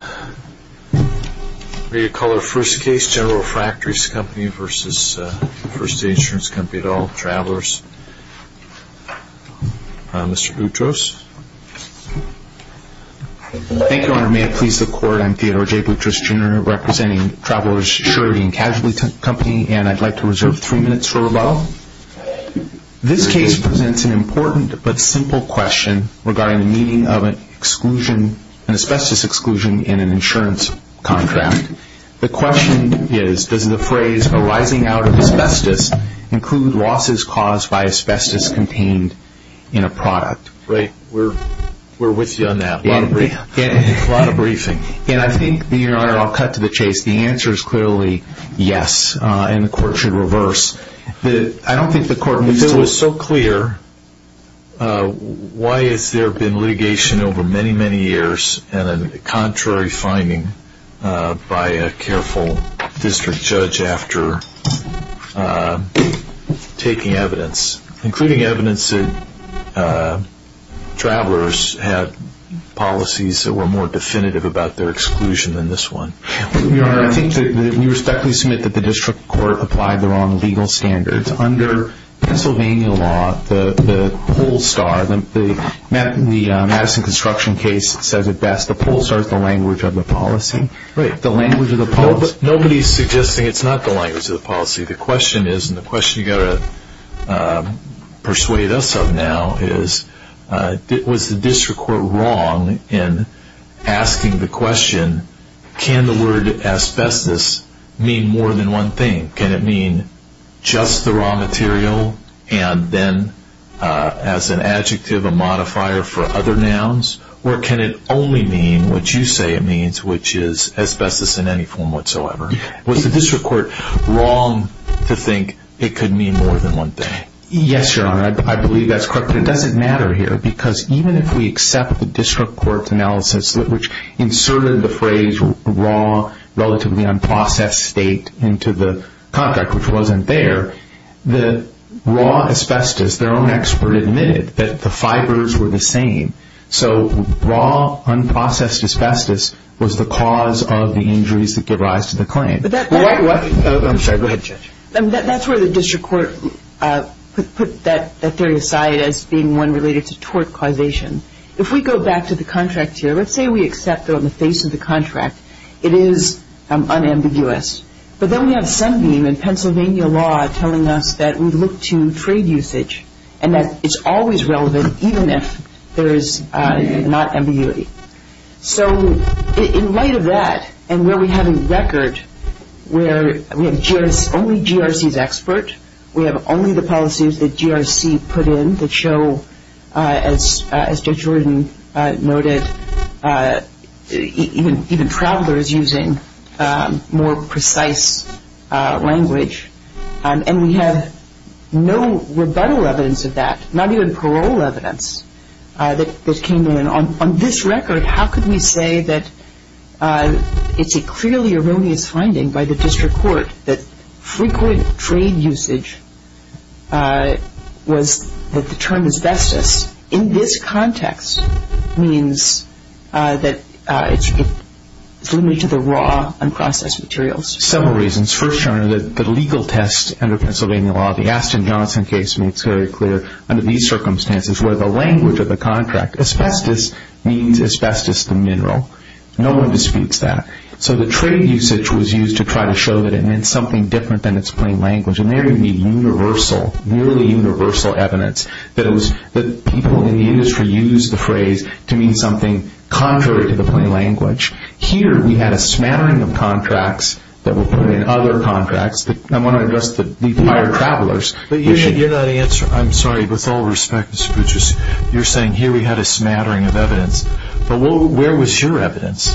at all, Travelers. Mr. Boutros. Thank you, Your Honor. May it please the Court. I'm Theodore J. Boutros, Jr. representing Travelers' Surety and Casualty Company, and I'd like to reserve three minutes for rebuttal. This case presents an important but simple question regarding the meaning of an asbestos exclusion in an insurance contract. The question is, does the phrase, arising out of asbestos, include losses caused by asbestos contained in a product? Right. We're with you on that. A lot of briefing. And I think, Your Honor, I'll cut to the chase. The answer is clearly yes, and the Court should reverse. I don't think the Court needs to So it's so clear, why has there been litigation over many, many years and a contrary finding by a careful district judge after taking evidence, including evidence that Travelers had policies that were more definitive about their exclusion than this one? Your Honor, I think that we respectfully submit that the district court applied the wrong legal standards. Under Pennsylvania law, the poll star, the Madison Construction case says it best, the poll star is the language of the policy. Right. Nobody is suggesting it's not the language of the policy. The question is, and the question you've got to persuade us of now is, was the district court wrong in asking the question, can the word asbestos mean more than one thing? Can it mean just the raw material and then as an adjective, a modifier for other nouns? Or can it only mean what you say it means, which is asbestos in any form whatsoever? Was the district court wrong to think it could mean more than one thing? Yes, Your Honor. I believe that's correct. But it doesn't matter here, because even if we accept the district court's analysis, which inserted the phrase raw, relatively unprocessed state into the contract, which wasn't there, the raw asbestos, their own expert admitted that the fibers were the same. So raw, unprocessed asbestos was the cause of the injuries that give rise to the claim. I'm sorry, go ahead, Judge. That's where the district court put that theory aside as being one related to tort causation. If we go back to the contract here, let's say we accept that on the face of the contract, it is unambiguous. But then we have Sunbeam and Pennsylvania law telling us that we look to trade usage and that it's always relevant even if there is not ambiguity. So in light of that, and where we have a record where we have only GRC's expert, we have only the policies that GRC put in that show, as Judge Jordan noted, even travelers using more precise language. And we have no rebuttal evidence of that, not even parole evidence that came in. On this record, how could we say that it's a clearly erroneous finding by the district court that frequent trade usage was that the term asbestos in this context means that it's limited to the raw, unprocessed materials? Several reasons. First, Your Honor, the legal test under Pennsylvania law, the Aston Johnson case makes very clear under these circumstances where the language of the contract, asbestos means asbestos the mineral. No one disputes that. So the trade usage was used to try to show that it meant something different than its plain language. And there you need universal, nearly universal evidence that people in the industry used the phrase to mean something contrary to the plain language. Here we had a smattering of contracts that were put in other contracts. I want to address the prior travelers. But Your Honor, you're not answering. I'm sorry, but with all respect, Mr. Boucher, you're saying here we had a smattering of evidence. But where was your evidence?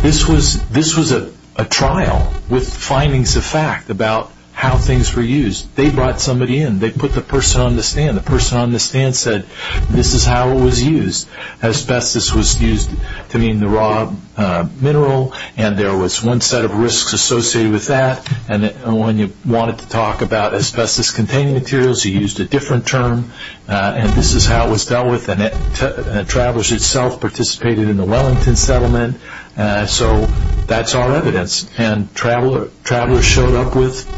This was a trial with findings of fact about how things were used. They brought somebody in. They put the person on the stand. The person on the stand said, this is how it was used. Asbestos was used to mean the raw mineral, and there was one set of risks associated with that. And when you wanted to talk about asbestos-containing materials, you used a different term. And this is how it was dealt with. And travelers themselves participated in the Wellington Settlement. So that's our evidence. And travelers showed up with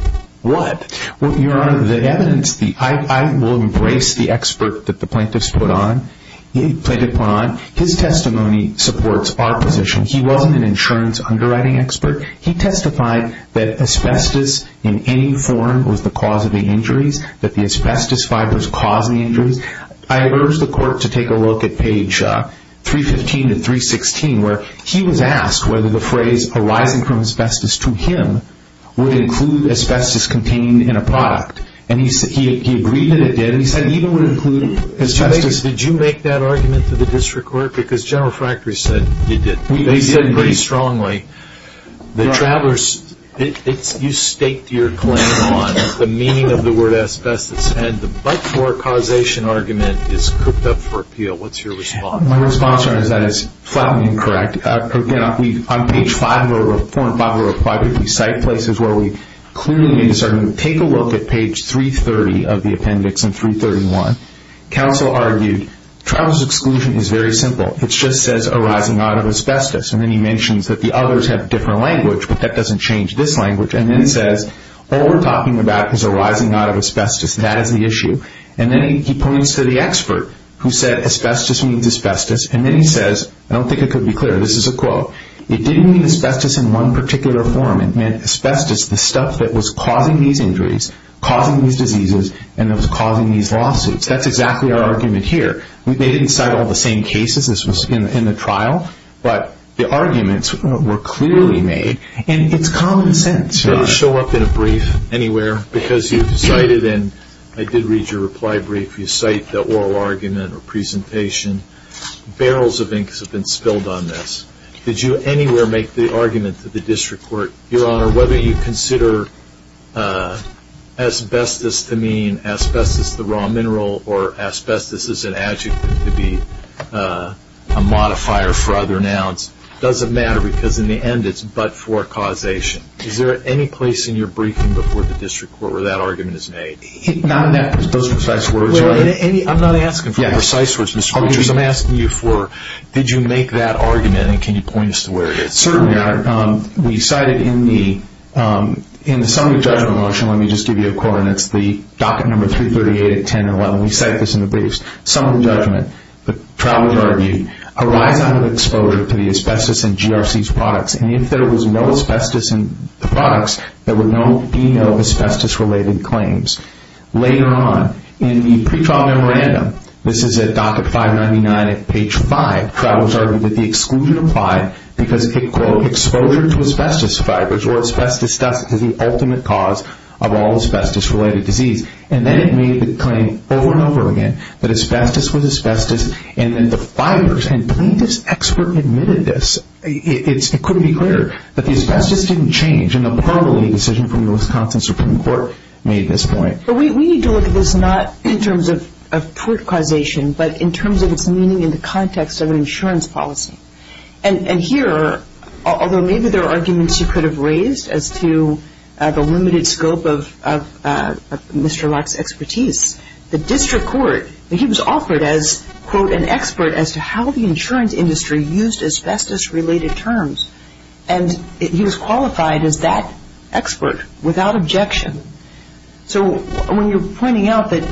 what? Your Honor, the evidence, I will embrace the expert that the plaintiff put on. His testimony supports our position. He wasn't an insurance underwriting expert. He testified that asbestos in any form was the cause of the injuries, that the asbestos fibers caused the injuries. I urge the court to take a look at page 315 to 316, where he was asked whether the phrase arising from asbestos to him would include asbestos-containing in a product. And he agreed that it did. And he said it even would include asbestos. Did you make that argument to the district court? Because General Fractory said you did. They said pretty strongly that travelers, you staked your claim on the meaning of the word asbestos. And the but-for causation argument is cooked up for appeal. What's your response? My response, Your Honor, is that it's flatly incorrect. Again, on page 4 and 5 of our reply brief, we cite places where we clearly made a certain, take a look at page 330 of the appendix in 331. Counsel argued travelers' exclusion is very simple. It just says arising out of asbestos. And then he mentions that the others have different language, but that doesn't change this language. And then says all we're talking about is arising out of asbestos. That is the issue. And then he points to the expert who said asbestos means asbestos. And then he says, I don't think it could be clearer, this is a quote, it didn't mean asbestos in one particular form. It meant asbestos, the stuff that was causing these injuries, causing these diseases, and that was causing these lawsuits. That's exactly our argument here. They didn't cite all the same cases as was in the trial, but the arguments were clearly made. And it's common sense, Your Honor. Did it show up in a brief anywhere? Because you cited, and I did read your reply brief, you cite the oral argument or presentation. Barrels of inks have been spilled on this. Did you anywhere make the argument to the district court, Your Honor, whether you consider asbestos to mean asbestos, the raw mineral, or asbestos as an adjective to be a modifier for other nouns? Doesn't matter because in the end it's but for causation. Is there any place in your briefing before the district court where that argument is made? Not in those precise words. I'm not asking for precise words, Mr. Winters. I'm asking you for, did you make that argument and can you point us to where it is? Certainly, Your Honor. We cited in the summary judgment motion, let me just give you a coordinates, the docket number 338 at 10 and 11. We cite this in the briefs. Summary judgment, the trial was argued, a rise out of exposure to the asbestos in GRC's products. And if there was no asbestos in the products, there would be no asbestos related claims. Later on, in the pretrial memorandum, this is at docket 599 at page five, trial was argued that the exposure to asbestos fibers or asbestos dust is the ultimate cause of all asbestos related disease. And then it made the claim over and over again that asbestos was asbestos and that the fibers, and I believe this expert admitted this, it couldn't be clearer, that the asbestos didn't change. And the parliamentary decision from the Wisconsin Supreme Court made this point. But we need to look at this not in terms of tort causation, but in terms of its meaning in the context of an insurance policy. And here, although maybe there are arguments you could have raised as to the limited scope of Mr. Lark's expertise, the district court, he was offered as, quote, an expert as to how the insurance industry used asbestos related terms. And he was qualified as that expert without objection. So when you're pointing out that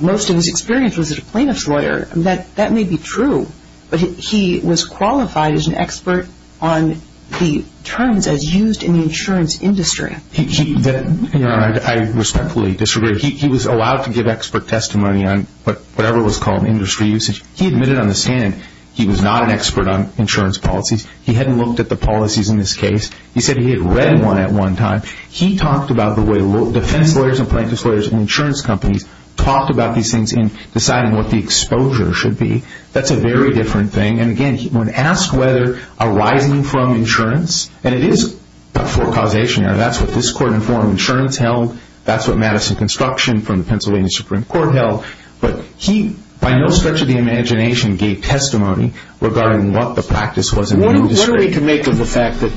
most of his experience was as a plaintiff's lawyer, that may be true. But he was qualified as an expert on the terms as used in the insurance industry. I respectfully disagree. He was allowed to give expert testimony on whatever was called industry usage. He admitted on the stand he was not an expert on insurance policies. He hadn't looked at the policies in this case. He said he had read one at one time. He talked about the way defense lawyers and plaintiff's lawyers in insurance companies talked about these things in deciding what the exposure should be. That's a very different thing. And, again, when asked whether arising from insurance, and it is a tort causation error. That's what this court informed insurance held. That's what Madison Construction from the Pennsylvania Supreme Court held. But he, by no stretch of the imagination, gave testimony regarding what the practice was in the industry. What are we to make of the fact that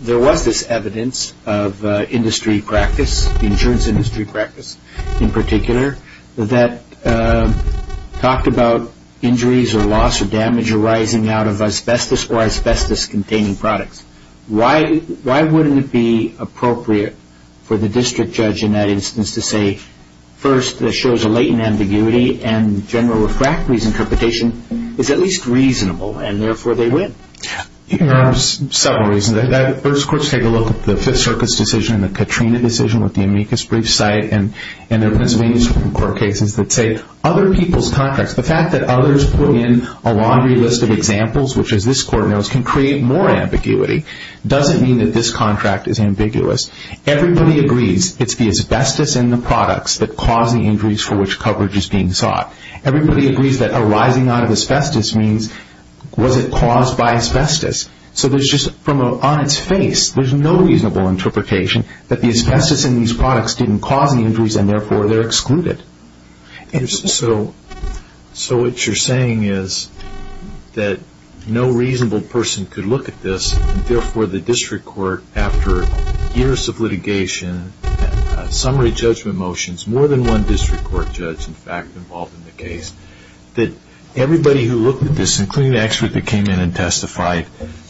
there was this evidence of industry practice, the insurance industry practice in particular, that talked about injuries or loss or damage arising out of asbestos or asbestos-containing products? Why wouldn't it be appropriate for the district judge in that instance to say, first, this shows a latent ambiguity, and interpretation is at least reasonable, and therefore they win? There are several reasons. First, courts take a look at the Fifth Circuit's decision and the Katrina decision with the amicus brief site and the Pennsylvania Supreme Court cases that say other people's contracts, the fact that others put in a laundry list of examples, which as this court knows, can create more ambiguity, doesn't mean that this contract is ambiguous. Everybody agrees it's the asbestos in the products that cause the injuries for which coverage is being sought. Everybody agrees that arising out of asbestos means was it caused by asbestos? So there's just, on its face, there's no reasonable interpretation that the asbestos in these products didn't cause the injuries, and therefore they're excluded. So what you're saying is that no reasonable person could look at this, and therefore the district court, after years of litigation, summary judgment motions, more than one district court judge involved in the case, that everybody who looked at this, including the expert that came in and testified,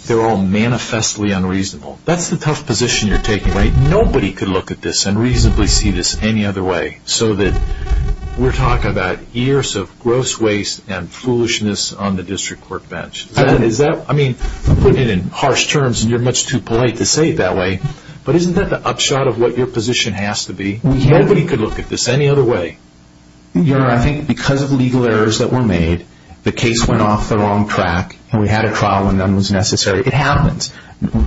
they're all manifestly unreasonable. That's the tough position you're taking, right? Nobody could look at this and reasonably see this any other way, so that we're talking about years of gross waste and foolishness on the district court bench. I mean, I'm putting it in harsh terms, and you're much too polite to say it that way, but isn't that the upshot of what your position has to be? Nobody could look at this any other way. Your Honor, I think because of legal errors that were made, the case went off the wrong track, and we had a trial when none was necessary. It happens.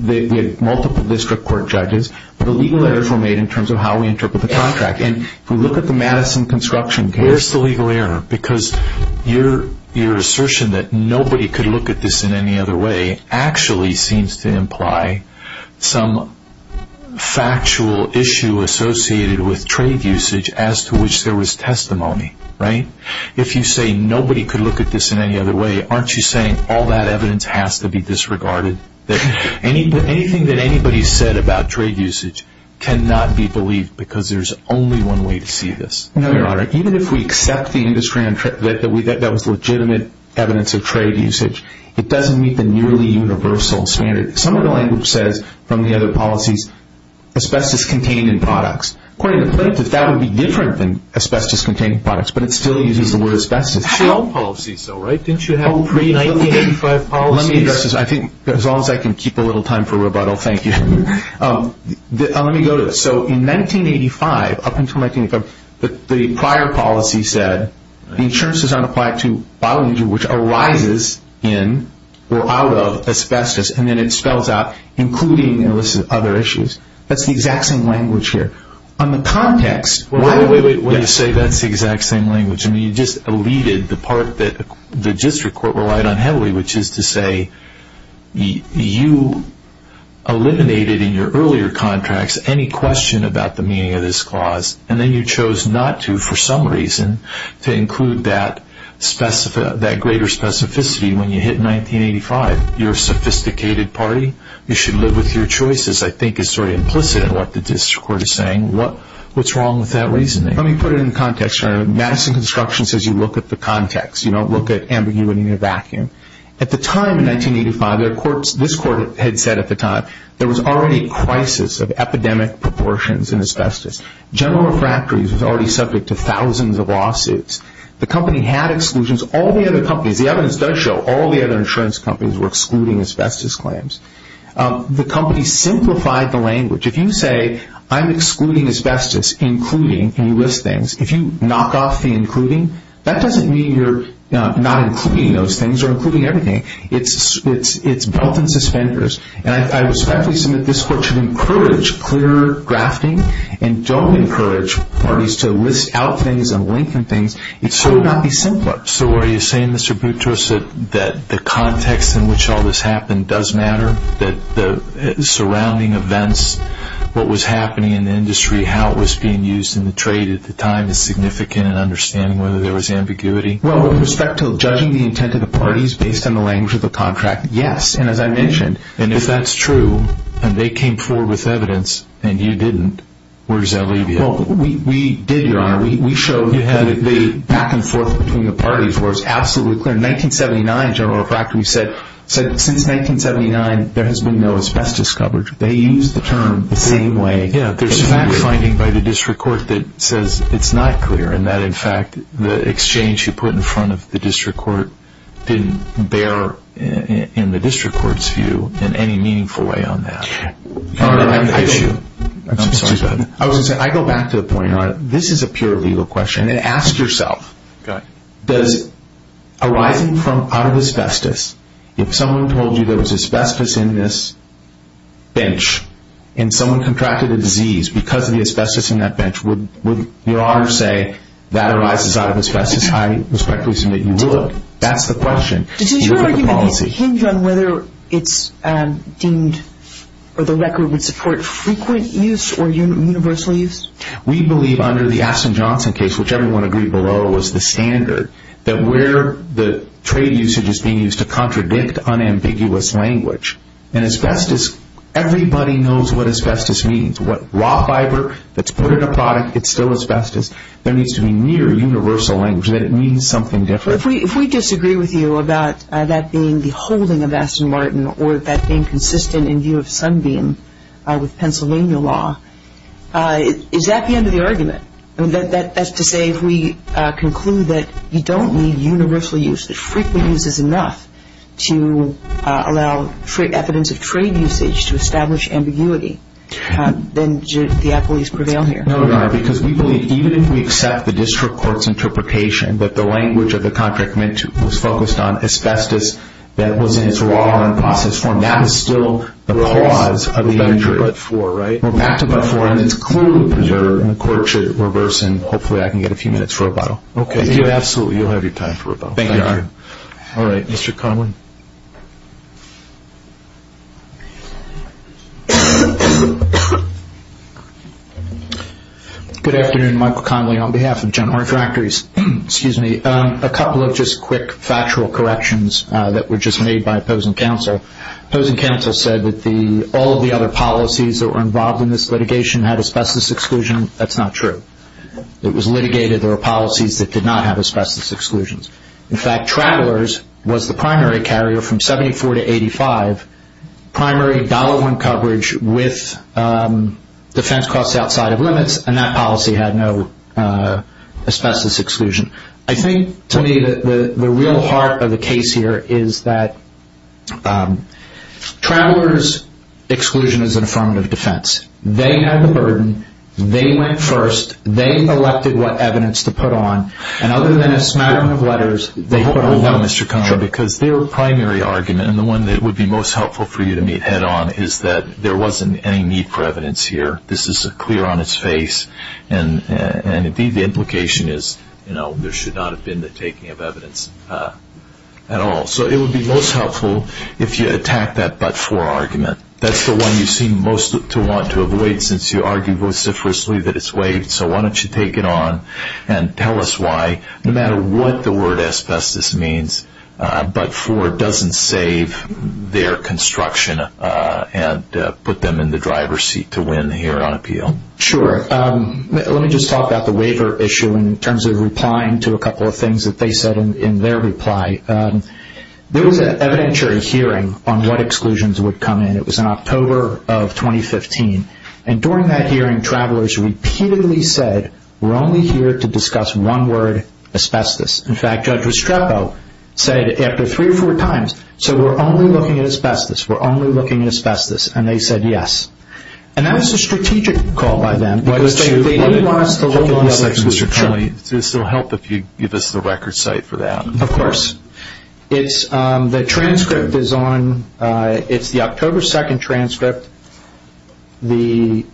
We had multiple district court judges, but the legal errors were made in terms of how we interpret the contract. And if we look at the Madison construction case... Where's the legal error? Because your assertion that nobody could look at this in any other way actually seems to imply some factual issue associated with trade usage as to which there was testimony, right? If you say nobody could look at this in any other way, aren't you saying all that evidence has to be disregarded? Anything that anybody said about trade usage cannot be believed, because there's only one way to see this. No, Your Honor. Even if we accept that that was legitimate evidence of trade usage, it doesn't meet the nearly universal standard. Some of the language says, from the other policies, asbestos contained in products. According to Plaintiff, that would be different than asbestos contained in products, but it still uses the word asbestos. That's all policies though, right? Didn't you have the pre-1985 policies? Let me address this. I think as long as I can keep a little time for rebuttal, thank you. Let me go to... So in 1985, up until 1985, the prior policy said the insurance is unapplied to bioinjury, which arises in or out of asbestos, and then it spells out including other issues. That's the exact same language here. On the context... Wait, wait, wait. What do you say that's the exact same language? I mean, you just eluded the part that the district court relied on heavily, which is to say you eliminated in your earlier contracts any question about the meaning of this clause, and then you chose not to, for some reason, to include that greater specificity when you hit 1985. You're a sophisticated party. You should live with your choices, I think is sort of implicit in what the district court is saying. What's wrong with that reasoning? Let me put it in context. Madison Construction says you look at the context. You don't look at ambiguity in a vacuum. At the time in 1985, this court had said at the time, there was already a crisis of epidemic proportions in asbestos. General Refractories was already subject to thousands of lawsuits. The company had exclusions. All the other companies, the evidence does show all the other insurance companies were excluding asbestos claims. The company simplified the language. If you say I'm excluding asbestos, including, and you list things, if you knock off the including, that doesn't mean you're not including those vendors. I respectfully submit this court should encourage clear grafting and don't encourage parties to list out things and link things. It should not be simpler. So are you saying, Mr. Boutrous, that the context in which all this happened does matter? That the surrounding events, what was happening in the industry, how it was being used in the trade at the time is significant in understanding whether there was ambiguity? Well, with respect to judging the intent of the parties based on the language of the contract, yes, and as I mentioned, and if that's true and they came forward with evidence and you didn't, where does that leave you? Well, we did, Your Honor. We showed the back and forth between the parties where it's absolutely clear. In 1979, General Refractories said, since 1979, there has been no asbestos coverage. They used the term the same way. Yeah, there's a fact finding by the district court that says it's not clear and that in of the district court didn't bear in the district court's view in any meaningful way on that. Your Honor, I go back to the point, Your Honor. This is a pure legal question and ask yourself, does arising out of asbestos, if someone told you there was asbestos in this bench and someone contracted a disease because of the asbestos in that bench, would Your Honor say that arises out of asbestos? I respectfully submit you would. That's the question. Does your argument hinge on whether it's deemed or the record would support frequent use or universal use? We believe under the Aston Johnson case, which everyone agreed below, was the standard that where the trade usage is being used to contradict unambiguous language. And asbestos, everybody knows what asbestos means. What raw fiber that's put in a product, it's still asbestos. There needs to be near universal language, that it means something different. If we disagree with you about that being the holding of Aston Martin or that being consistent in view of Sunbeam with Pennsylvania law, is that the end of the argument? That's to say if we conclude that you don't need universal use, that frequent use is enough to allow for evidence of trade usage to establish ambiguity, then do the appellees prevail here? No, Your Honor, because we believe even if we accept the district court's interpretation that the language of the contract was focused on asbestos that was in its raw and unprocessed form, that is still the cause of the injury. We're back to but-for, right? We're back to but-for, and it's clearly preserved, and the court should reverse and hopefully I can get a few minutes for rebuttal. Okay, absolutely, you'll have your time for rebuttal. Thank you, Your Honor. All right, Mr. Conway. Good afternoon, Michael Conway on behalf of General Refractories. A couple of just quick factual corrections that were just made by opposing counsel. Opposing counsel said that all of the other policies that were involved in this litigation had asbestos exclusion. That's not true. It was litigated. There were policies that did not have asbestos exclusions. In fact, Travelers was the primary carrier from 1974 to 1985. They had primary dollar-one coverage with defense costs outside of limits, and that policy had no asbestos exclusion. I think, to me, the real heart of the case here is that Travelers' exclusion is an affirmative defense. They had the burden. They went first. They elected what evidence to put on, and other than a smattering of letters, they put on nothing. Mr. Conway, because their primary argument, and the one that would be most helpful for you to meet head-on, is that there wasn't any need for evidence here. This is clear on its face, and, indeed, the implication is, you know, there should not have been the taking of evidence at all. So it would be most helpful if you attack that but-for argument. That's the one you seem most to want to avoid since you argue vociferously that it's waived, so why don't you take it on and tell us why. No matter what the word asbestos means, but-for doesn't save their construction and put them in the driver's seat to win here on appeal. Sure. Let me just talk about the waiver issue in terms of replying to a couple of things that they said in their reply. There was an evidentiary hearing on what exclusions would come in. It was in October of 2015, and during that hearing, Travelers repeatedly said, we're only here to discuss one word, asbestos. In fact, Judge Restrepo said it after three or four times, so we're only looking at asbestos, we're only looking at asbestos, and they said yes. And that was a strategic call by them because they didn't want us to look at other exclusions. Mr. Connolly, this will help if you give us the record site for that. Of course. The transcript is on-it's the October 2nd transcript. The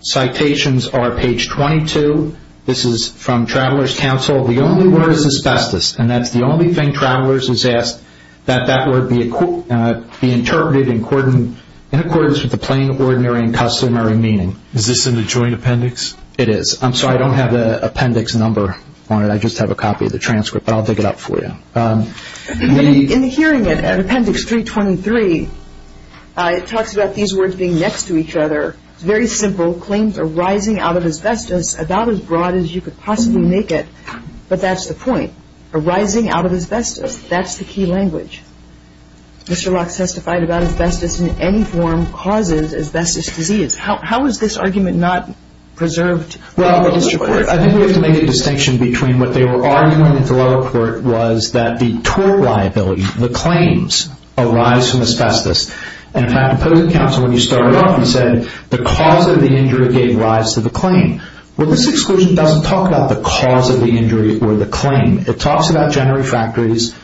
citations are page 22. This is from Travelers Council. The only word is asbestos, and that's the only thing Travelers has asked, that that word be interpreted in accordance with the plain, ordinary, and customary meaning. Is this in the joint appendix? It is. I'm sorry, I don't have the appendix number on it. I just have a copy of the transcript, but I'll dig it up for you. In the hearing appendix 323, it talks about these words being next to each other. It's very simple. Claims arising out of asbestos about as broad as you could possibly make it, but that's the point. Arising out of asbestos, that's the key language. Mr. Locke testified about asbestos in any form causes asbestos disease. How is this argument not preserved? I think we have to make a distinction between what they were arguing at the lower court was that the tort liability, the claims, arise from asbestos. In fact, opposing counsel, when you started off, you said the cause of the injury gave rise to the claim. Well, this exclusion doesn't talk about the cause of the injury or the claim. It talks about general refractories,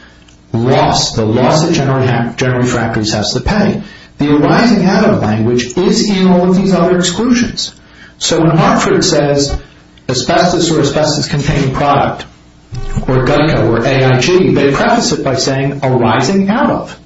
the loss that general refractories has to pay. The arising out of language is in all of these other exclusions. So when Hartford says asbestos or asbestos-containing product or GUCA or AIG, they preface it by saying arising out of.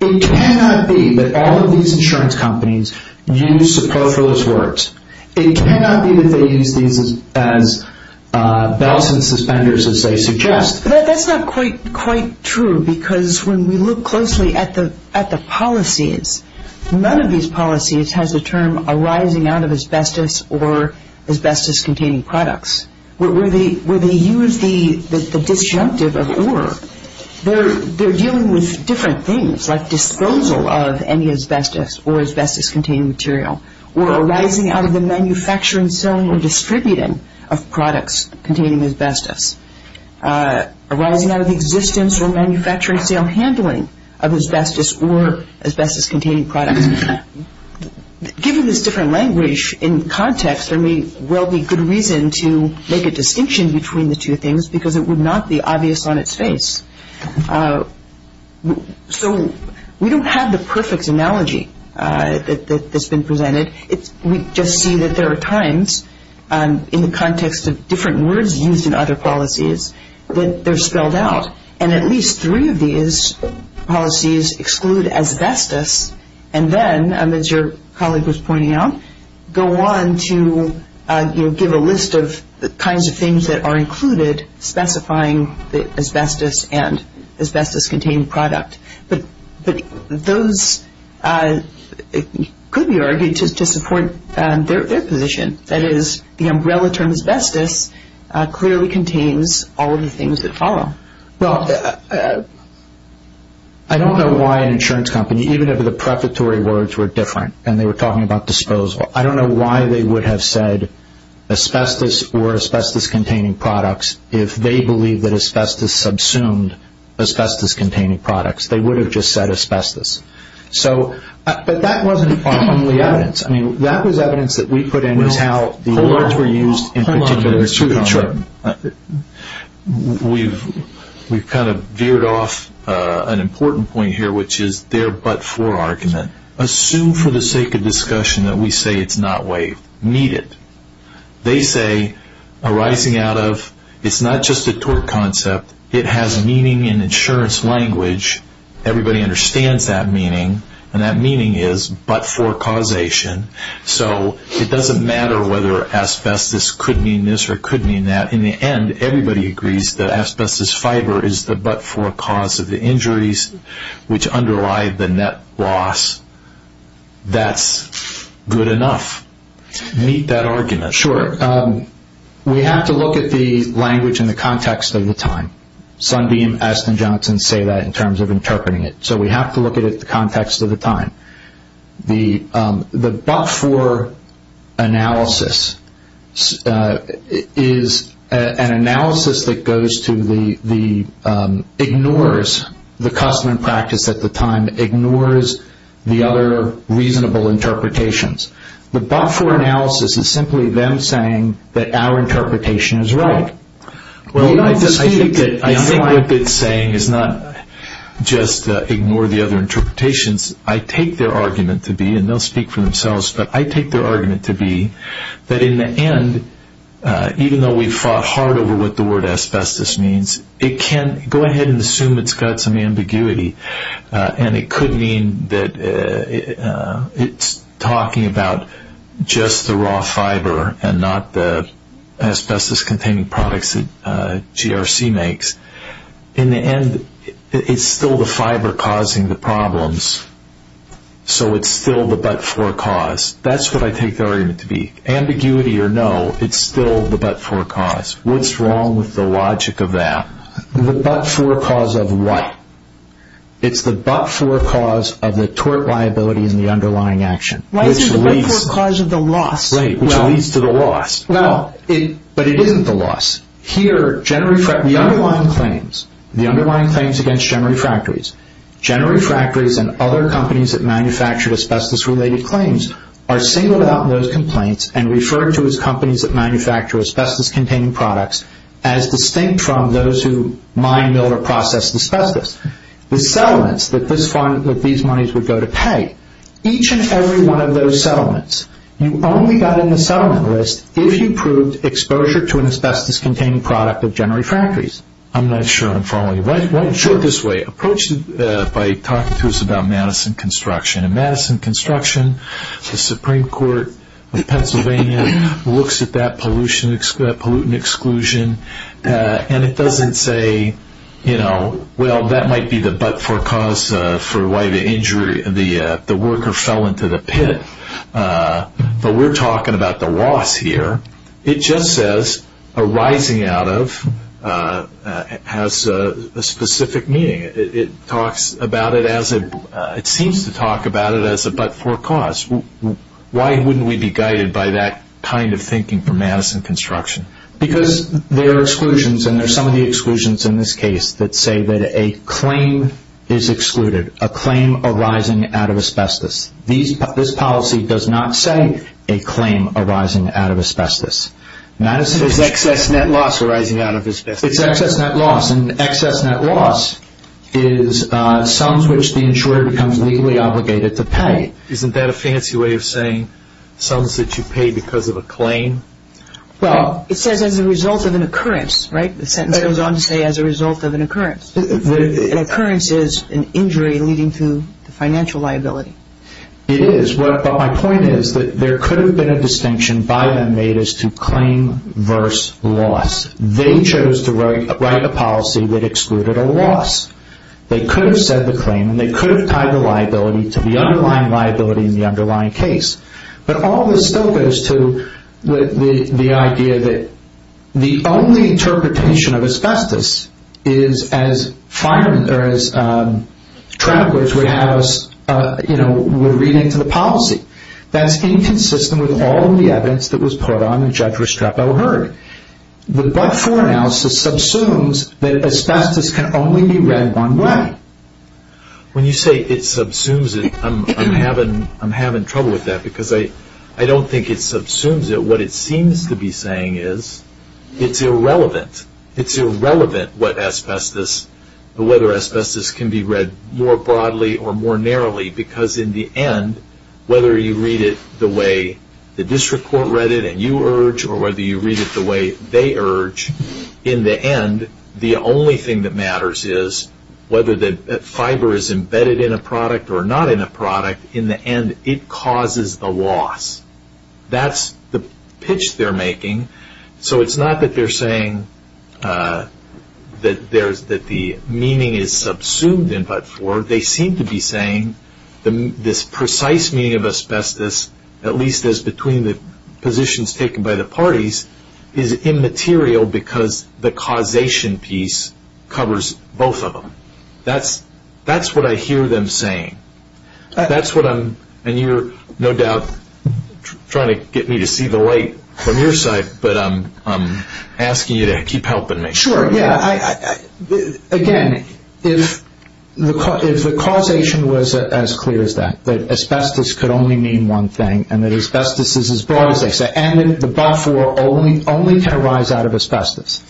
It cannot be that all of these insurance companies use superfluous words. It cannot be that they use these as bells and suspenders as they suggest. That's not quite true because when we look closely at the policies, none of these policies has a term arising out of asbestos or asbestos-containing products. Where they use the disjunctive of or, they're dealing with different things like disposal of any asbestos or asbestos-containing material or arising out of the manufacturing, selling, or distributing of products containing asbestos. Arising out of the existence or manufacturing, sale, or handling of asbestos or asbestos-containing products. Given this different language in context, there may well be good reason to make a distinction between the two things because it would not be obvious on its face. So we don't have the perfect analogy that's been presented. We just see that there are times in the context of different words used in other policies that they're spelled out and at least three of these policies exclude asbestos and then, as your colleague was pointing out, go on to give a list of the kinds of things that are included specifying the asbestos and asbestos-containing product. But those could be argued to support their position. That is, the umbrella term asbestos clearly contains all of the things that follow. Well, I don't know why an insurance company, even if the preparatory words were different and they were talking about disposal, I don't know why they would have said asbestos or asbestos-containing products if they believe that asbestos subsumed asbestos-containing products. They would have just said asbestos. But that wasn't our only evidence. I mean, that was evidence that we put in as how the words were used in particular. Hold on a minute. We've kind of veered off an important point here, which is their but-for argument. Assume for the sake of discussion that we say it's not waived. Meet it. They say arising out of it's not just a tort concept. It has meaning in insurance language. Everybody understands that meaning, and that meaning is but-for causation. So it doesn't matter whether asbestos could mean this or could mean that. In the end, everybody agrees that asbestos fiber is the but-for cause of the injuries which underlie the net loss. That's good enough. Meet that argument. Sure. We have to look at the language in the context of the time. Sundeem, Estin, Johnson say that in terms of interpreting it. So we have to look at it in the context of the time. The but-for analysis is an analysis that goes to the ignores, the custom and practice at the time ignores the other reasonable interpretations. The but-for analysis is simply them saying that our interpretation is right. I think what they're saying is not just ignore the other interpretations. I take their argument to be, and they'll speak for themselves, but I take their argument to be that in the end, even though we fought hard over what the word asbestos means, it can go ahead and assume it's got some ambiguity, and it could mean that it's talking about just the raw fiber and not the asbestos-containing products that GRC makes. In the end, it's still the fiber causing the problems, so it's still the but-for cause. That's what I take their argument to be. Ambiguity or no, it's still the but-for cause. What's wrong with the logic of that? The but-for cause of what? It's the but-for cause of the tort liability and the underlying action. Why is it the but-for cause of the loss? Right, which leads to the loss. But it isn't the loss. Here, the underlying claims against General Refractories, General Refractories and other companies that manufacture asbestos-related claims are singled out in those complaints and referred to as companies that manufacture asbestos-containing products as distinct from those who mine, mill, or process asbestos. The settlements that these monies would go to pay, each and every one of those settlements, you only got in the settlement list if you proved exposure to an asbestos-containing product of General Refractories. I'm not sure I'm following you. Why don't you put it this way? Approach it by talking to us about Madison Construction. In Madison Construction, the Supreme Court of Pennsylvania looks at that pollutant exclusion and it doesn't say, you know, well, that might be the but-for cause for why the worker fell into the pit. But we're talking about the loss here. It just says arising out of has a specific meaning. It seems to talk about it as a but-for cause. Why wouldn't we be guided by that kind of thinking for Madison Construction? Because there are exclusions, and there are some of the exclusions in this case that say that a claim is excluded, a claim arising out of asbestos. This policy does not say a claim arising out of asbestos. It's excess net loss arising out of asbestos. It's excess net loss, and excess net loss is sums which the insurer becomes legally obligated to pay. Isn't that a fancy way of saying sums that you pay because of a claim? Well, it says as a result of an occurrence, right? The sentence goes on to say as a result of an occurrence. An occurrence is an injury leading to financial liability. It is. But my point is that there could have been a distinction by them made as to claim versus loss. They chose to write a policy that excluded a loss. They could have said the claim, and they could have tied the liability to the underlying liability in the underlying case. But all this still goes to the idea that the only interpretation of asbestos is as travelers would read into the policy. That's inconsistent with all of the evidence that was put on and Judge Restrepo heard. The but-for analysis subsumes that asbestos can only be read one way. When you say it subsumes it, I'm having trouble with that because I don't think it subsumes it. What it seems to be saying is it's irrelevant. It's irrelevant whether asbestos can be read more broadly or more narrowly because in the end, whether you read it the way the district court read it and you urge or whether you read it the way they urge, in the end, the only thing that matters is whether the fiber is embedded in a product or not in a product. In the end, it causes the loss. That's the pitch they're making. So it's not that they're saying that the meaning is subsumed in but-for. They seem to be saying this precise meaning of asbestos, at least as between the positions taken by the parties, is immaterial because the causation piece covers both of them. That's what I hear them saying. That's what I'm, and you're no doubt trying to get me to see the light from your side, but I'm asking you to keep helping me. Sure. Again, if the causation was as clear as that, that asbestos could only mean one thing and that asbestos is as broad as they say, and that the but-for only can arise out of asbestos,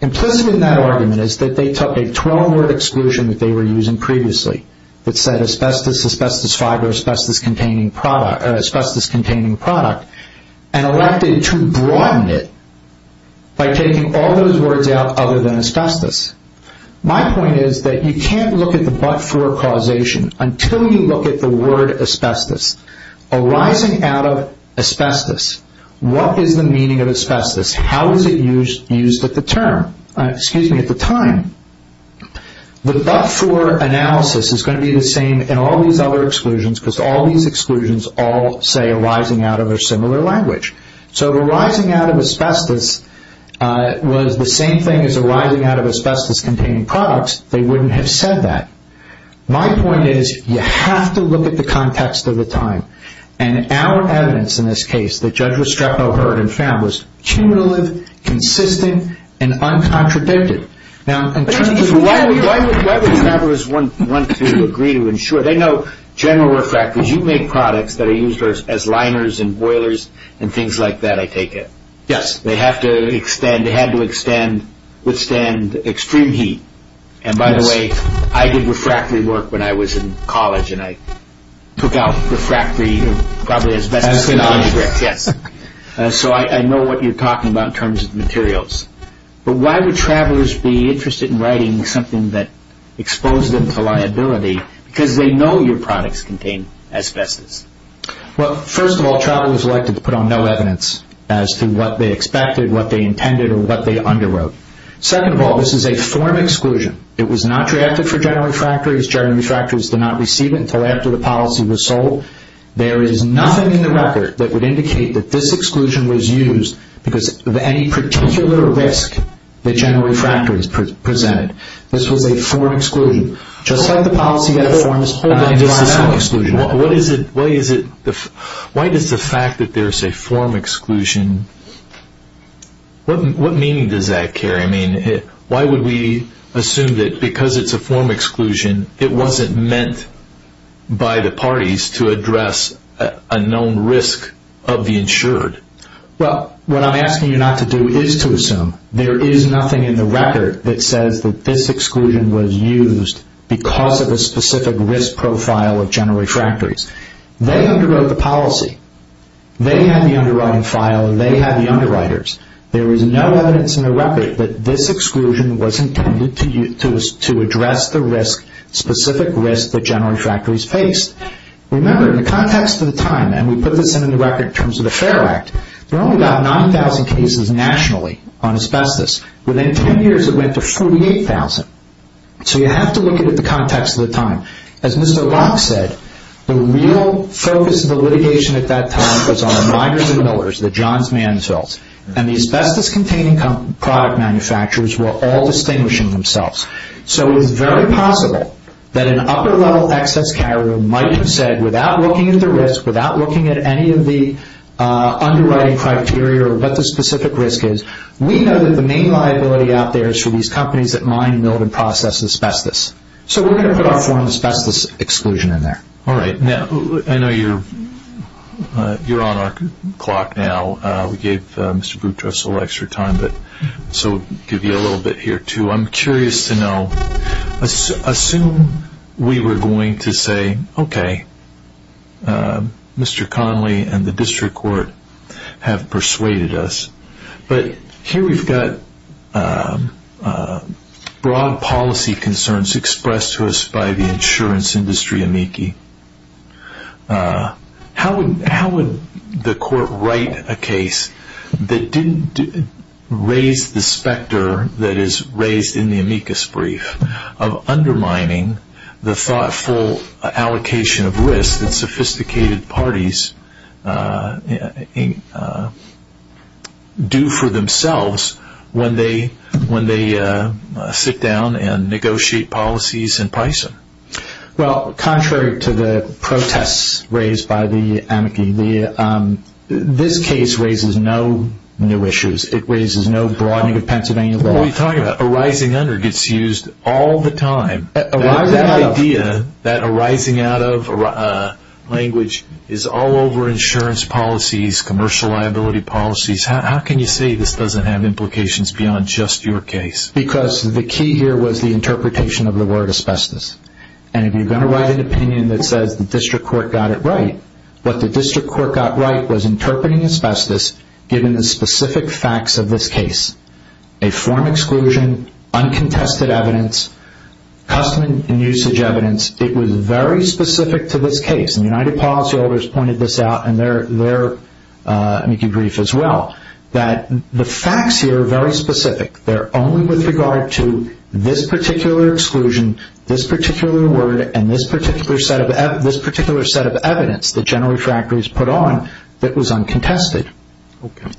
implicit in that argument is that they took a 12-word exclusion that they were using previously that said asbestos, asbestos fiber, asbestos-containing product, and elected to broaden it by taking all those words out other than asbestos. My point is that you can't look at the but-for causation until you look at the word asbestos. Arising out of asbestos, what is the meaning of asbestos? How is it used at the time? The but-for analysis is going to be the same in all these other exclusions because all these exclusions all say arising out of a similar language. So if arising out of asbestos was the same thing as arising out of asbestos-containing products, they wouldn't have said that. My point is you have to look at the context of the time, and our evidence in this case that Judge Restrepo heard and found was cumulative, consistent, and uncontradicted. Now, in terms of why would members want to agree to ensure? They know general refractors, you make products that are used as liners and boilers and things like that, I take it. Yes. They have to extend, they had to extend, withstand extreme heat. And by the way, I did refractory work when I was in college, and I took out refractory probably asbestos. Asbestos. Yes. So I know what you're talking about in terms of materials. But why would travelers be interested in writing something that exposed them to liability? Because they know your products contain asbestos. Well, first of all, travelers were elected to put on no evidence as to what they expected, what they intended, or what they underwrote. Second of all, this is a form exclusion. It was not drafted for general refractories. General refractories did not receive it until after the policy was sold. There is nothing in the record that would indicate that this exclusion was used because of any particular risk that general refractories presented. This was a form exclusion. Just like the policy that a form is holding. Why does the fact that there is a form exclusion, what meaning does that carry? I mean, why would we assume that because it's a form exclusion, it wasn't meant by the parties to address a known risk of the insured? Well, what I'm asking you not to do is to assume. There is nothing in the record that says that this exclusion was used because of a specific risk profile of general refractories. They underwrote the policy. They had the underwriting file and they had the underwriters. There is no evidence in the record that this exclusion was intended to address the risk, specific risk that general refractories faced. Remember, in the context of the time, and we put this in the record in terms of the FARE Act, there are only about 9,000 cases nationally on asbestos. Within 10 years, it went to 48,000. So you have to look at it in the context of the time. As Mr. Locke said, the real focus of the litigation at that time was on the Meyers and Millers, the Johns Mansfields, and the asbestos-containing product manufacturers were all distinguishing themselves. So it's very possible that an upper-level excess carrier might have said, without looking at the risk, without looking at any of the underwriting criteria or what the specific risk is, we know that the main liability out there is for these companies that mine, mill, and process asbestos. So we're going to put our form of asbestos exclusion in there. All right. Now, I know you're on our clock now. We gave Mr. Boutros a little extra time, so we'll give you a little bit here, too. I'm curious to know, assume we were going to say, okay, Mr. Connolly and the district court have persuaded us, but here we've got broad policy concerns expressed to us by the insurance industry amici. How would the court write a case that didn't raise the specter that is raised in the amicus brief of undermining the thoughtful allocation of risk that sophisticated parties do for themselves when they sit down and negotiate policies in Pison? Well, contrary to the protests raised by the amici, this case raises no new issues. It raises no broadening of Pennsylvania law. What are you talking about? Arising under gets used all the time. That idea, that arising out of language, is all over insurance policies, commercial liability policies. How can you say this doesn't have implications beyond just your case? It's because the key here was the interpretation of the word asbestos. If you're going to write an opinion that says the district court got it right, what the district court got right was interpreting asbestos given the specific facts of this case. A form exclusion, uncontested evidence, custom and usage evidence. It was very specific to this case. United Policyholders pointed this out in their amici brief as well, that the facts here are very specific. They're only with regard to this particular exclusion, this particular word, and this particular set of evidence that General Refractories put on that was uncontested.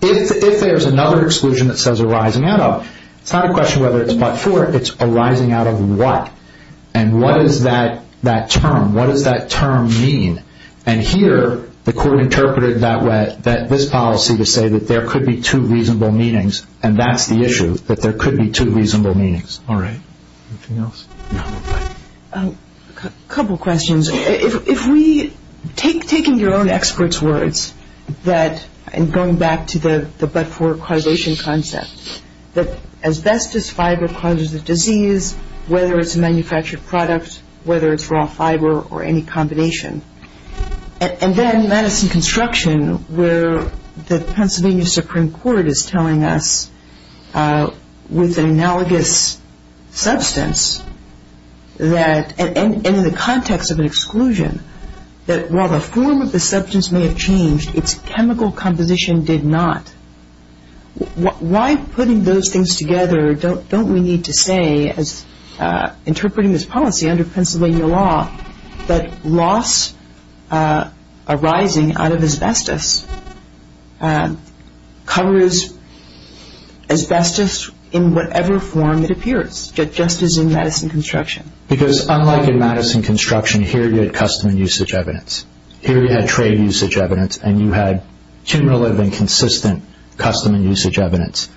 If there's another exclusion that says arising out of, it's not a question whether it's but-for. It's arising out of what? And what is that term? What does that term mean? And here the court interpreted this policy to say that there could be two reasonable meanings, and that's the issue, that there could be two reasonable meanings. All right. Anything else? No. A couple questions. If we, taking your own experts' words, and going back to the but-for causation concept, that asbestos fiber causes a disease, whether it's a manufactured product, whether it's raw fiber or any combination, and then Madison Construction where the Pennsylvania Supreme Court is telling us with an analogous substance, and in the context of an exclusion, that while the form of the substance may have changed, its chemical composition did not, why putting those things together don't we need to say, as interpreting this policy under Pennsylvania law, that loss arising out of asbestos covers asbestos in whatever form it appears, just as in Madison Construction? Because unlike in Madison Construction, here you had custom and usage evidence. Here you had trade usage evidence, and you had cumulative and consistent custom and usage evidence.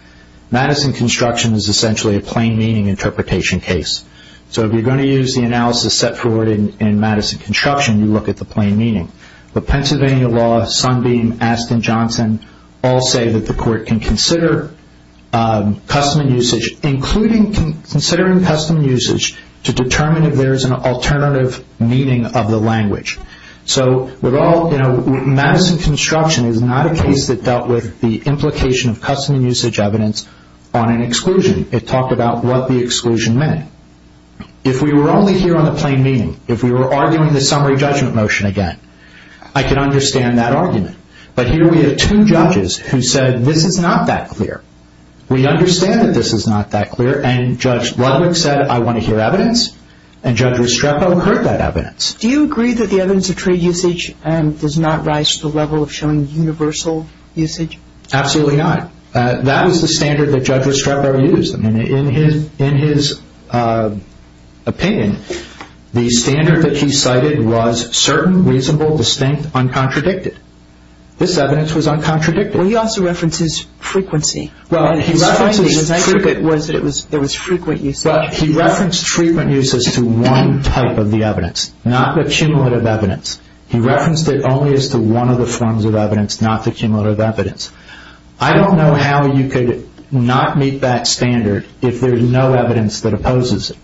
Madison Construction is essentially a plain meaning interpretation case. So if you're going to use the analysis set forward in Madison Construction, you look at the plain meaning. But Pennsylvania law, Sunbeam, Askin, Johnson, all say that the court can consider custom and usage, including considering custom and usage to determine if there is an alternative meaning of the language. Madison Construction is not a case that dealt with the implication of custom and usage evidence on an exclusion. It talked about what the exclusion meant. If we were only here on the plain meaning, if we were arguing the summary judgment motion again, I could understand that argument. But here we have two judges who said this is not that clear. We understand that this is not that clear, and Judge Ludwig said I want to hear evidence, and Judge Restrepo heard that evidence. Do you agree that the evidence of trade usage does not rise to the level of showing universal usage? Absolutely not. That was the standard that Judge Restrepo used. In his opinion, the standard that he cited was certain, reasonable, distinct, uncontradicted. This evidence was uncontradicted. Well, he also references frequency. Well, he references frequent uses to one type of the evidence. Not the cumulative evidence. He referenced it only as to one of the forms of evidence, not the cumulative evidence. I don't know how you could not meet that standard if there is no evidence that opposes it.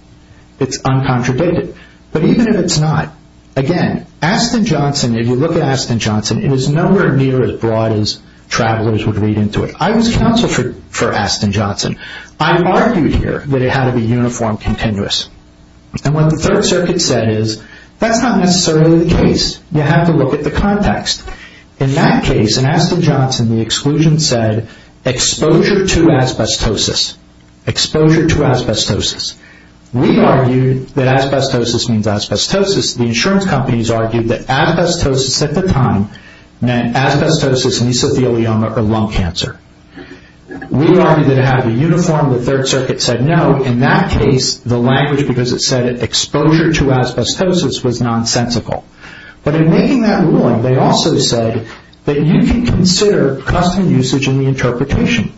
It's uncontradicted. But even if it's not, again, Aston Johnson, if you look at Aston Johnson, it is nowhere near as broad as travelers would read into it. I was counsel for Aston Johnson. I argued here that it had to be uniform, continuous. And what the Third Circuit said is, that's not necessarily the case. You have to look at the context. In that case, in Aston Johnson, the exclusion said, exposure to asbestosis. Exposure to asbestosis. We argued that asbestosis means asbestosis. The insurance companies argued that asbestosis at the time meant asbestosis, mesothelioma, or lung cancer. We argued that it had to be uniform. The Third Circuit said no. In that case, the language, because it said exposure to asbestosis, was nonsensical. But in making that ruling, they also said that you can consider custom usage in the interpretation.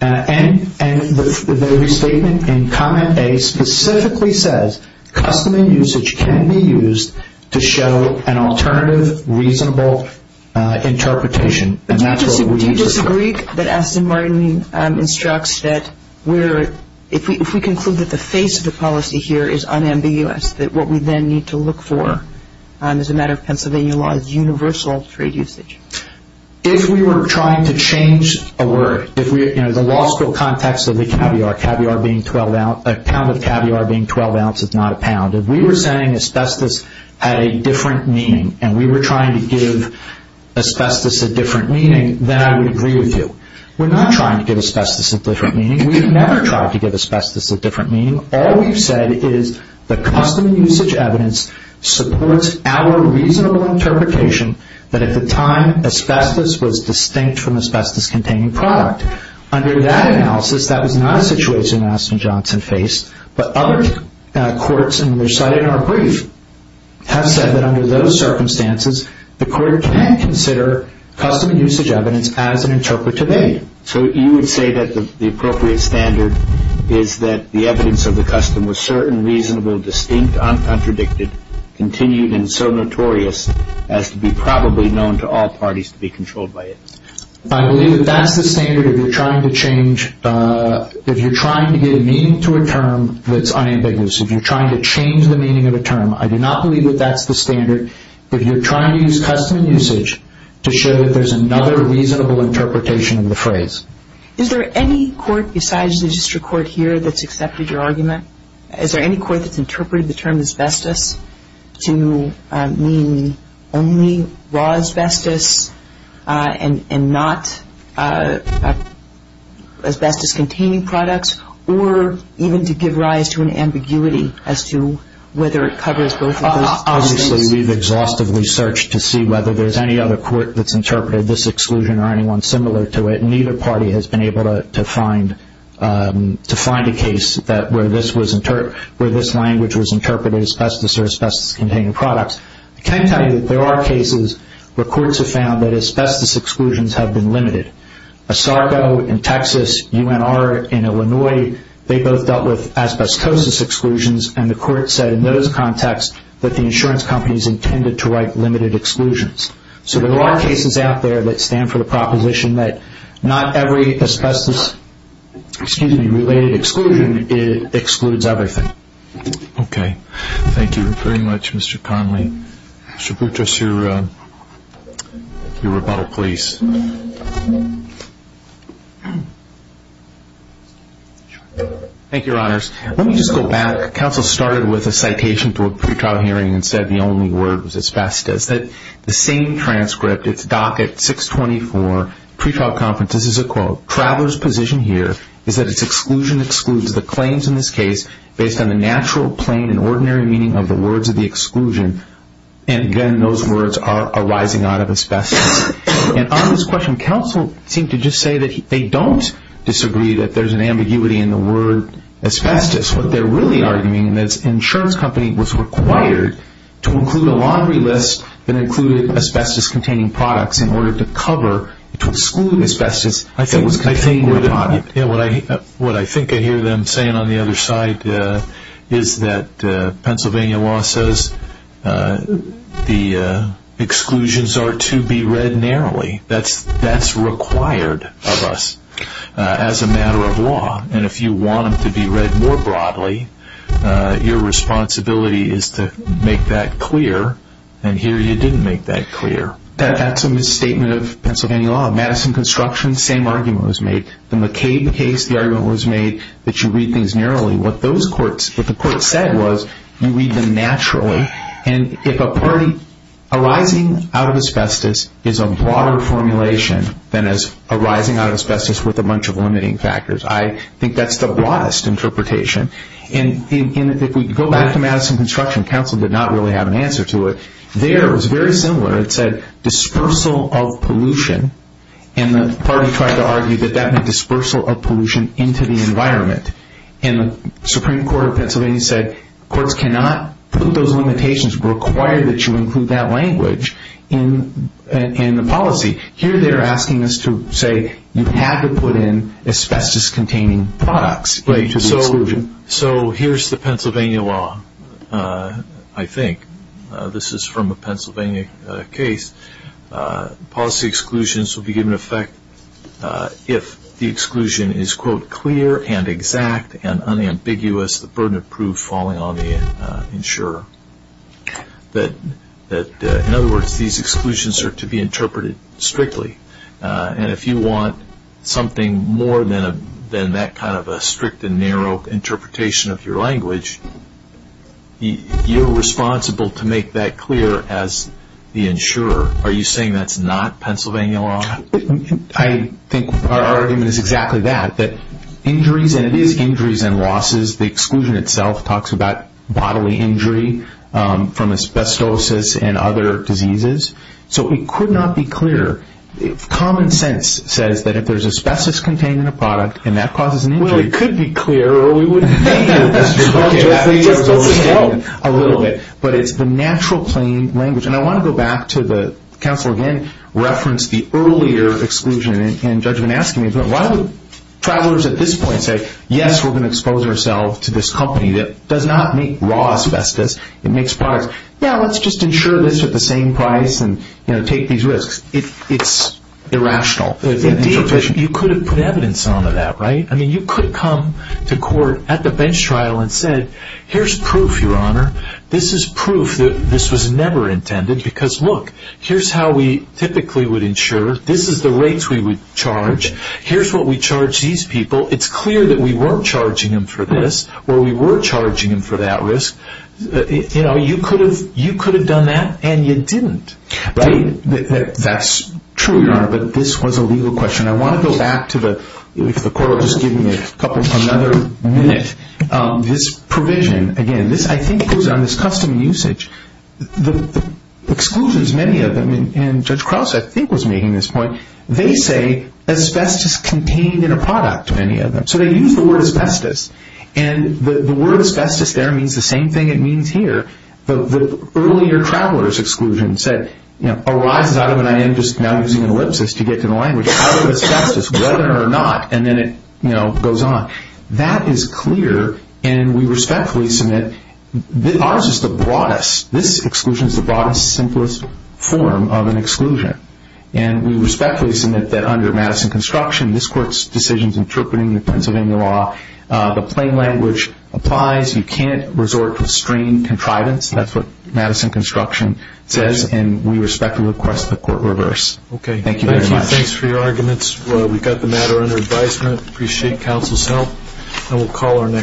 And the restatement in Comment A specifically says, custom usage can be used to show an alternative, reasonable interpretation. Do you disagree that Aston Martin instructs that if we conclude that the face of the policy here is unambiguous, that what we then need to look for as a matter of Pennsylvania law is universal trade usage? If we were trying to change a word, the law school context of the caviar, a pound of caviar being 12 ounces, not a pound. If we were saying asbestos had a different meaning, and we were trying to give asbestos a different meaning, then I would agree with you. We're not trying to give asbestos a different meaning. We've never tried to give asbestos a different meaning. All we've said is the custom usage evidence supports our reasonable interpretation that at the time asbestos was distinct from asbestos-containing product. Under that analysis, that was not a situation that Aston Johnson faced. But other courts, and they're cited in our brief, have said that under those circumstances, the court can consider custom usage evidence as an interpretative aid. So you would say that the appropriate standard is that the evidence of the custom was certain, reasonable, distinct, uncontradicted, continued, and so notorious as to be probably known to all parties to be controlled by it? I believe that that's the standard if you're trying to get a meaning to a term that's unambiguous. If you're trying to change the meaning of a term, I do not believe that that's the standard. If you're trying to use custom usage to show that there's another reasonable interpretation of the phrase. Is there any court besides the district court here that's accepted your argument? Is there any court that's interpreted the term asbestos to mean only raw asbestos and not asbestos-containing products? Or even to give rise to an ambiguity as to whether it covers both of those cases? Obviously, we've exhaustively searched to see whether there's any other court that's interpreted this exclusion or anyone similar to it. And neither party has been able to find a case where this language was interpreted as asbestos or asbestos-containing products. I can tell you that there are cases where courts have found that asbestos exclusions have been limited. ASARCO in Texas, UNR in Illinois, they both dealt with asbestosis exclusions. And the court said in those contexts that the insurance companies intended to write limited exclusions. So there are cases out there that stand for the proposition that not every asbestos-related exclusion excludes everything. Okay. Thank you very much, Mr. Conley. Mr. Boutrous, your rebuttal, please. Thank you, Your Honors. Let me just go back. Counsel started with a citation to a pretrial hearing and said the only word was asbestos. The same transcript, it's docket 624, pretrial conference. This is a quote. Traveler's position here is that its exclusion excludes the claims in this case based on the natural, plain, and ordinary meaning of the words of the exclusion. And again, those words are arising out of asbestos. And on this question, counsel seemed to just say that they don't disagree that there's an ambiguity in the word asbestos. What they're really arguing is that the insurance company was required to include a laundry list that included asbestos-containing products in order to cover, to exclude asbestos. What I think I hear them saying on the other side is that Pennsylvania law says the exclusions are to be read narrowly. That's required of us as a matter of law. And if you want them to be read more broadly, your responsibility is to make that clear. And here you didn't make that clear. That's a misstatement of Pennsylvania law. Madison Construction, same argument was made. The McCabe case, the argument was made that you read things narrowly. What the court said was you read them naturally. And if a party arising out of asbestos is a broader formulation than is arising out of asbestos with a bunch of limiting factors, I think that's the broadest interpretation. And if we go back to Madison Construction, counsel did not really have an answer to it. There it was very similar. It said dispersal of pollution. And the party tried to argue that that meant dispersal of pollution into the environment. And the Supreme Court of Pennsylvania said courts cannot put those limitations required that you include that language in the policy. Here they are asking us to say you have to put in asbestos-containing products into the exclusion. So here's the Pennsylvania law, I think. This is from a Pennsylvania case. Policy exclusions will be given effect if the exclusion is, quote, clear and exact and unambiguous, the burden of proof falling on the insurer. In other words, these exclusions are to be interpreted strictly. And if you want something more than that kind of a strict and narrow interpretation of your language, you're responsible to make that clear as the insurer. Are you saying that's not Pennsylvania law? I think our argument is exactly that, that injuries, and it is injuries and losses, the exclusion itself talks about bodily injury from asbestosis and other diseases. So it could not be clear. Common sense says that if there's asbestos-containing a product and that causes an injury. Well, it could be clear or we wouldn't need asbestos-containing a little bit. But it's the natural plain language. And I want to go back to the counsel again referenced the earlier exclusion. Why would travelers at this point say, yes, we're going to expose ourselves to this company that does not make raw asbestos. It makes products. Yeah, let's just insure this at the same price and take these risks. It's irrational. Indeed, you could have put evidence onto that, right? I mean, you could come to court at the bench trial and said, here's proof, Your Honor. This is proof that this was never intended because, look, here's how we typically would insure. This is the rates we would charge. Here's what we charge these people. It's clear that we weren't charging them for this or we were charging them for that risk. You know, you could have done that and you didn't. Right. That's true, Your Honor, but this was a legal question. I want to go back to the – if the court will just give me another minute. This provision, again, this I think goes on this custom usage. The exclusions, many of them, and Judge Krause, I think, was making this point. They say asbestos contained in a product, many of them. So they use the word asbestos. And the word asbestos there means the same thing it means here. The earlier traveler's exclusion said arises out of, and I am just now using an ellipsis to get to the language, out of asbestos, whether or not, and then it goes on. That is clear, and we respectfully submit that ours is the broadest. This exclusion is the broadest, simplest form of an exclusion. And we respectfully submit that under Madison construction, this court's decision is interpreting the Pennsylvania law. The plain language applies. You can't resort to strained contrivance. That's what Madison construction says, and we respectfully request the court reverse. Okay. Thank you very much. Thank you. Thanks for your arguments. We got the matter under advisement. Appreciate counsel's help, and we'll call our next.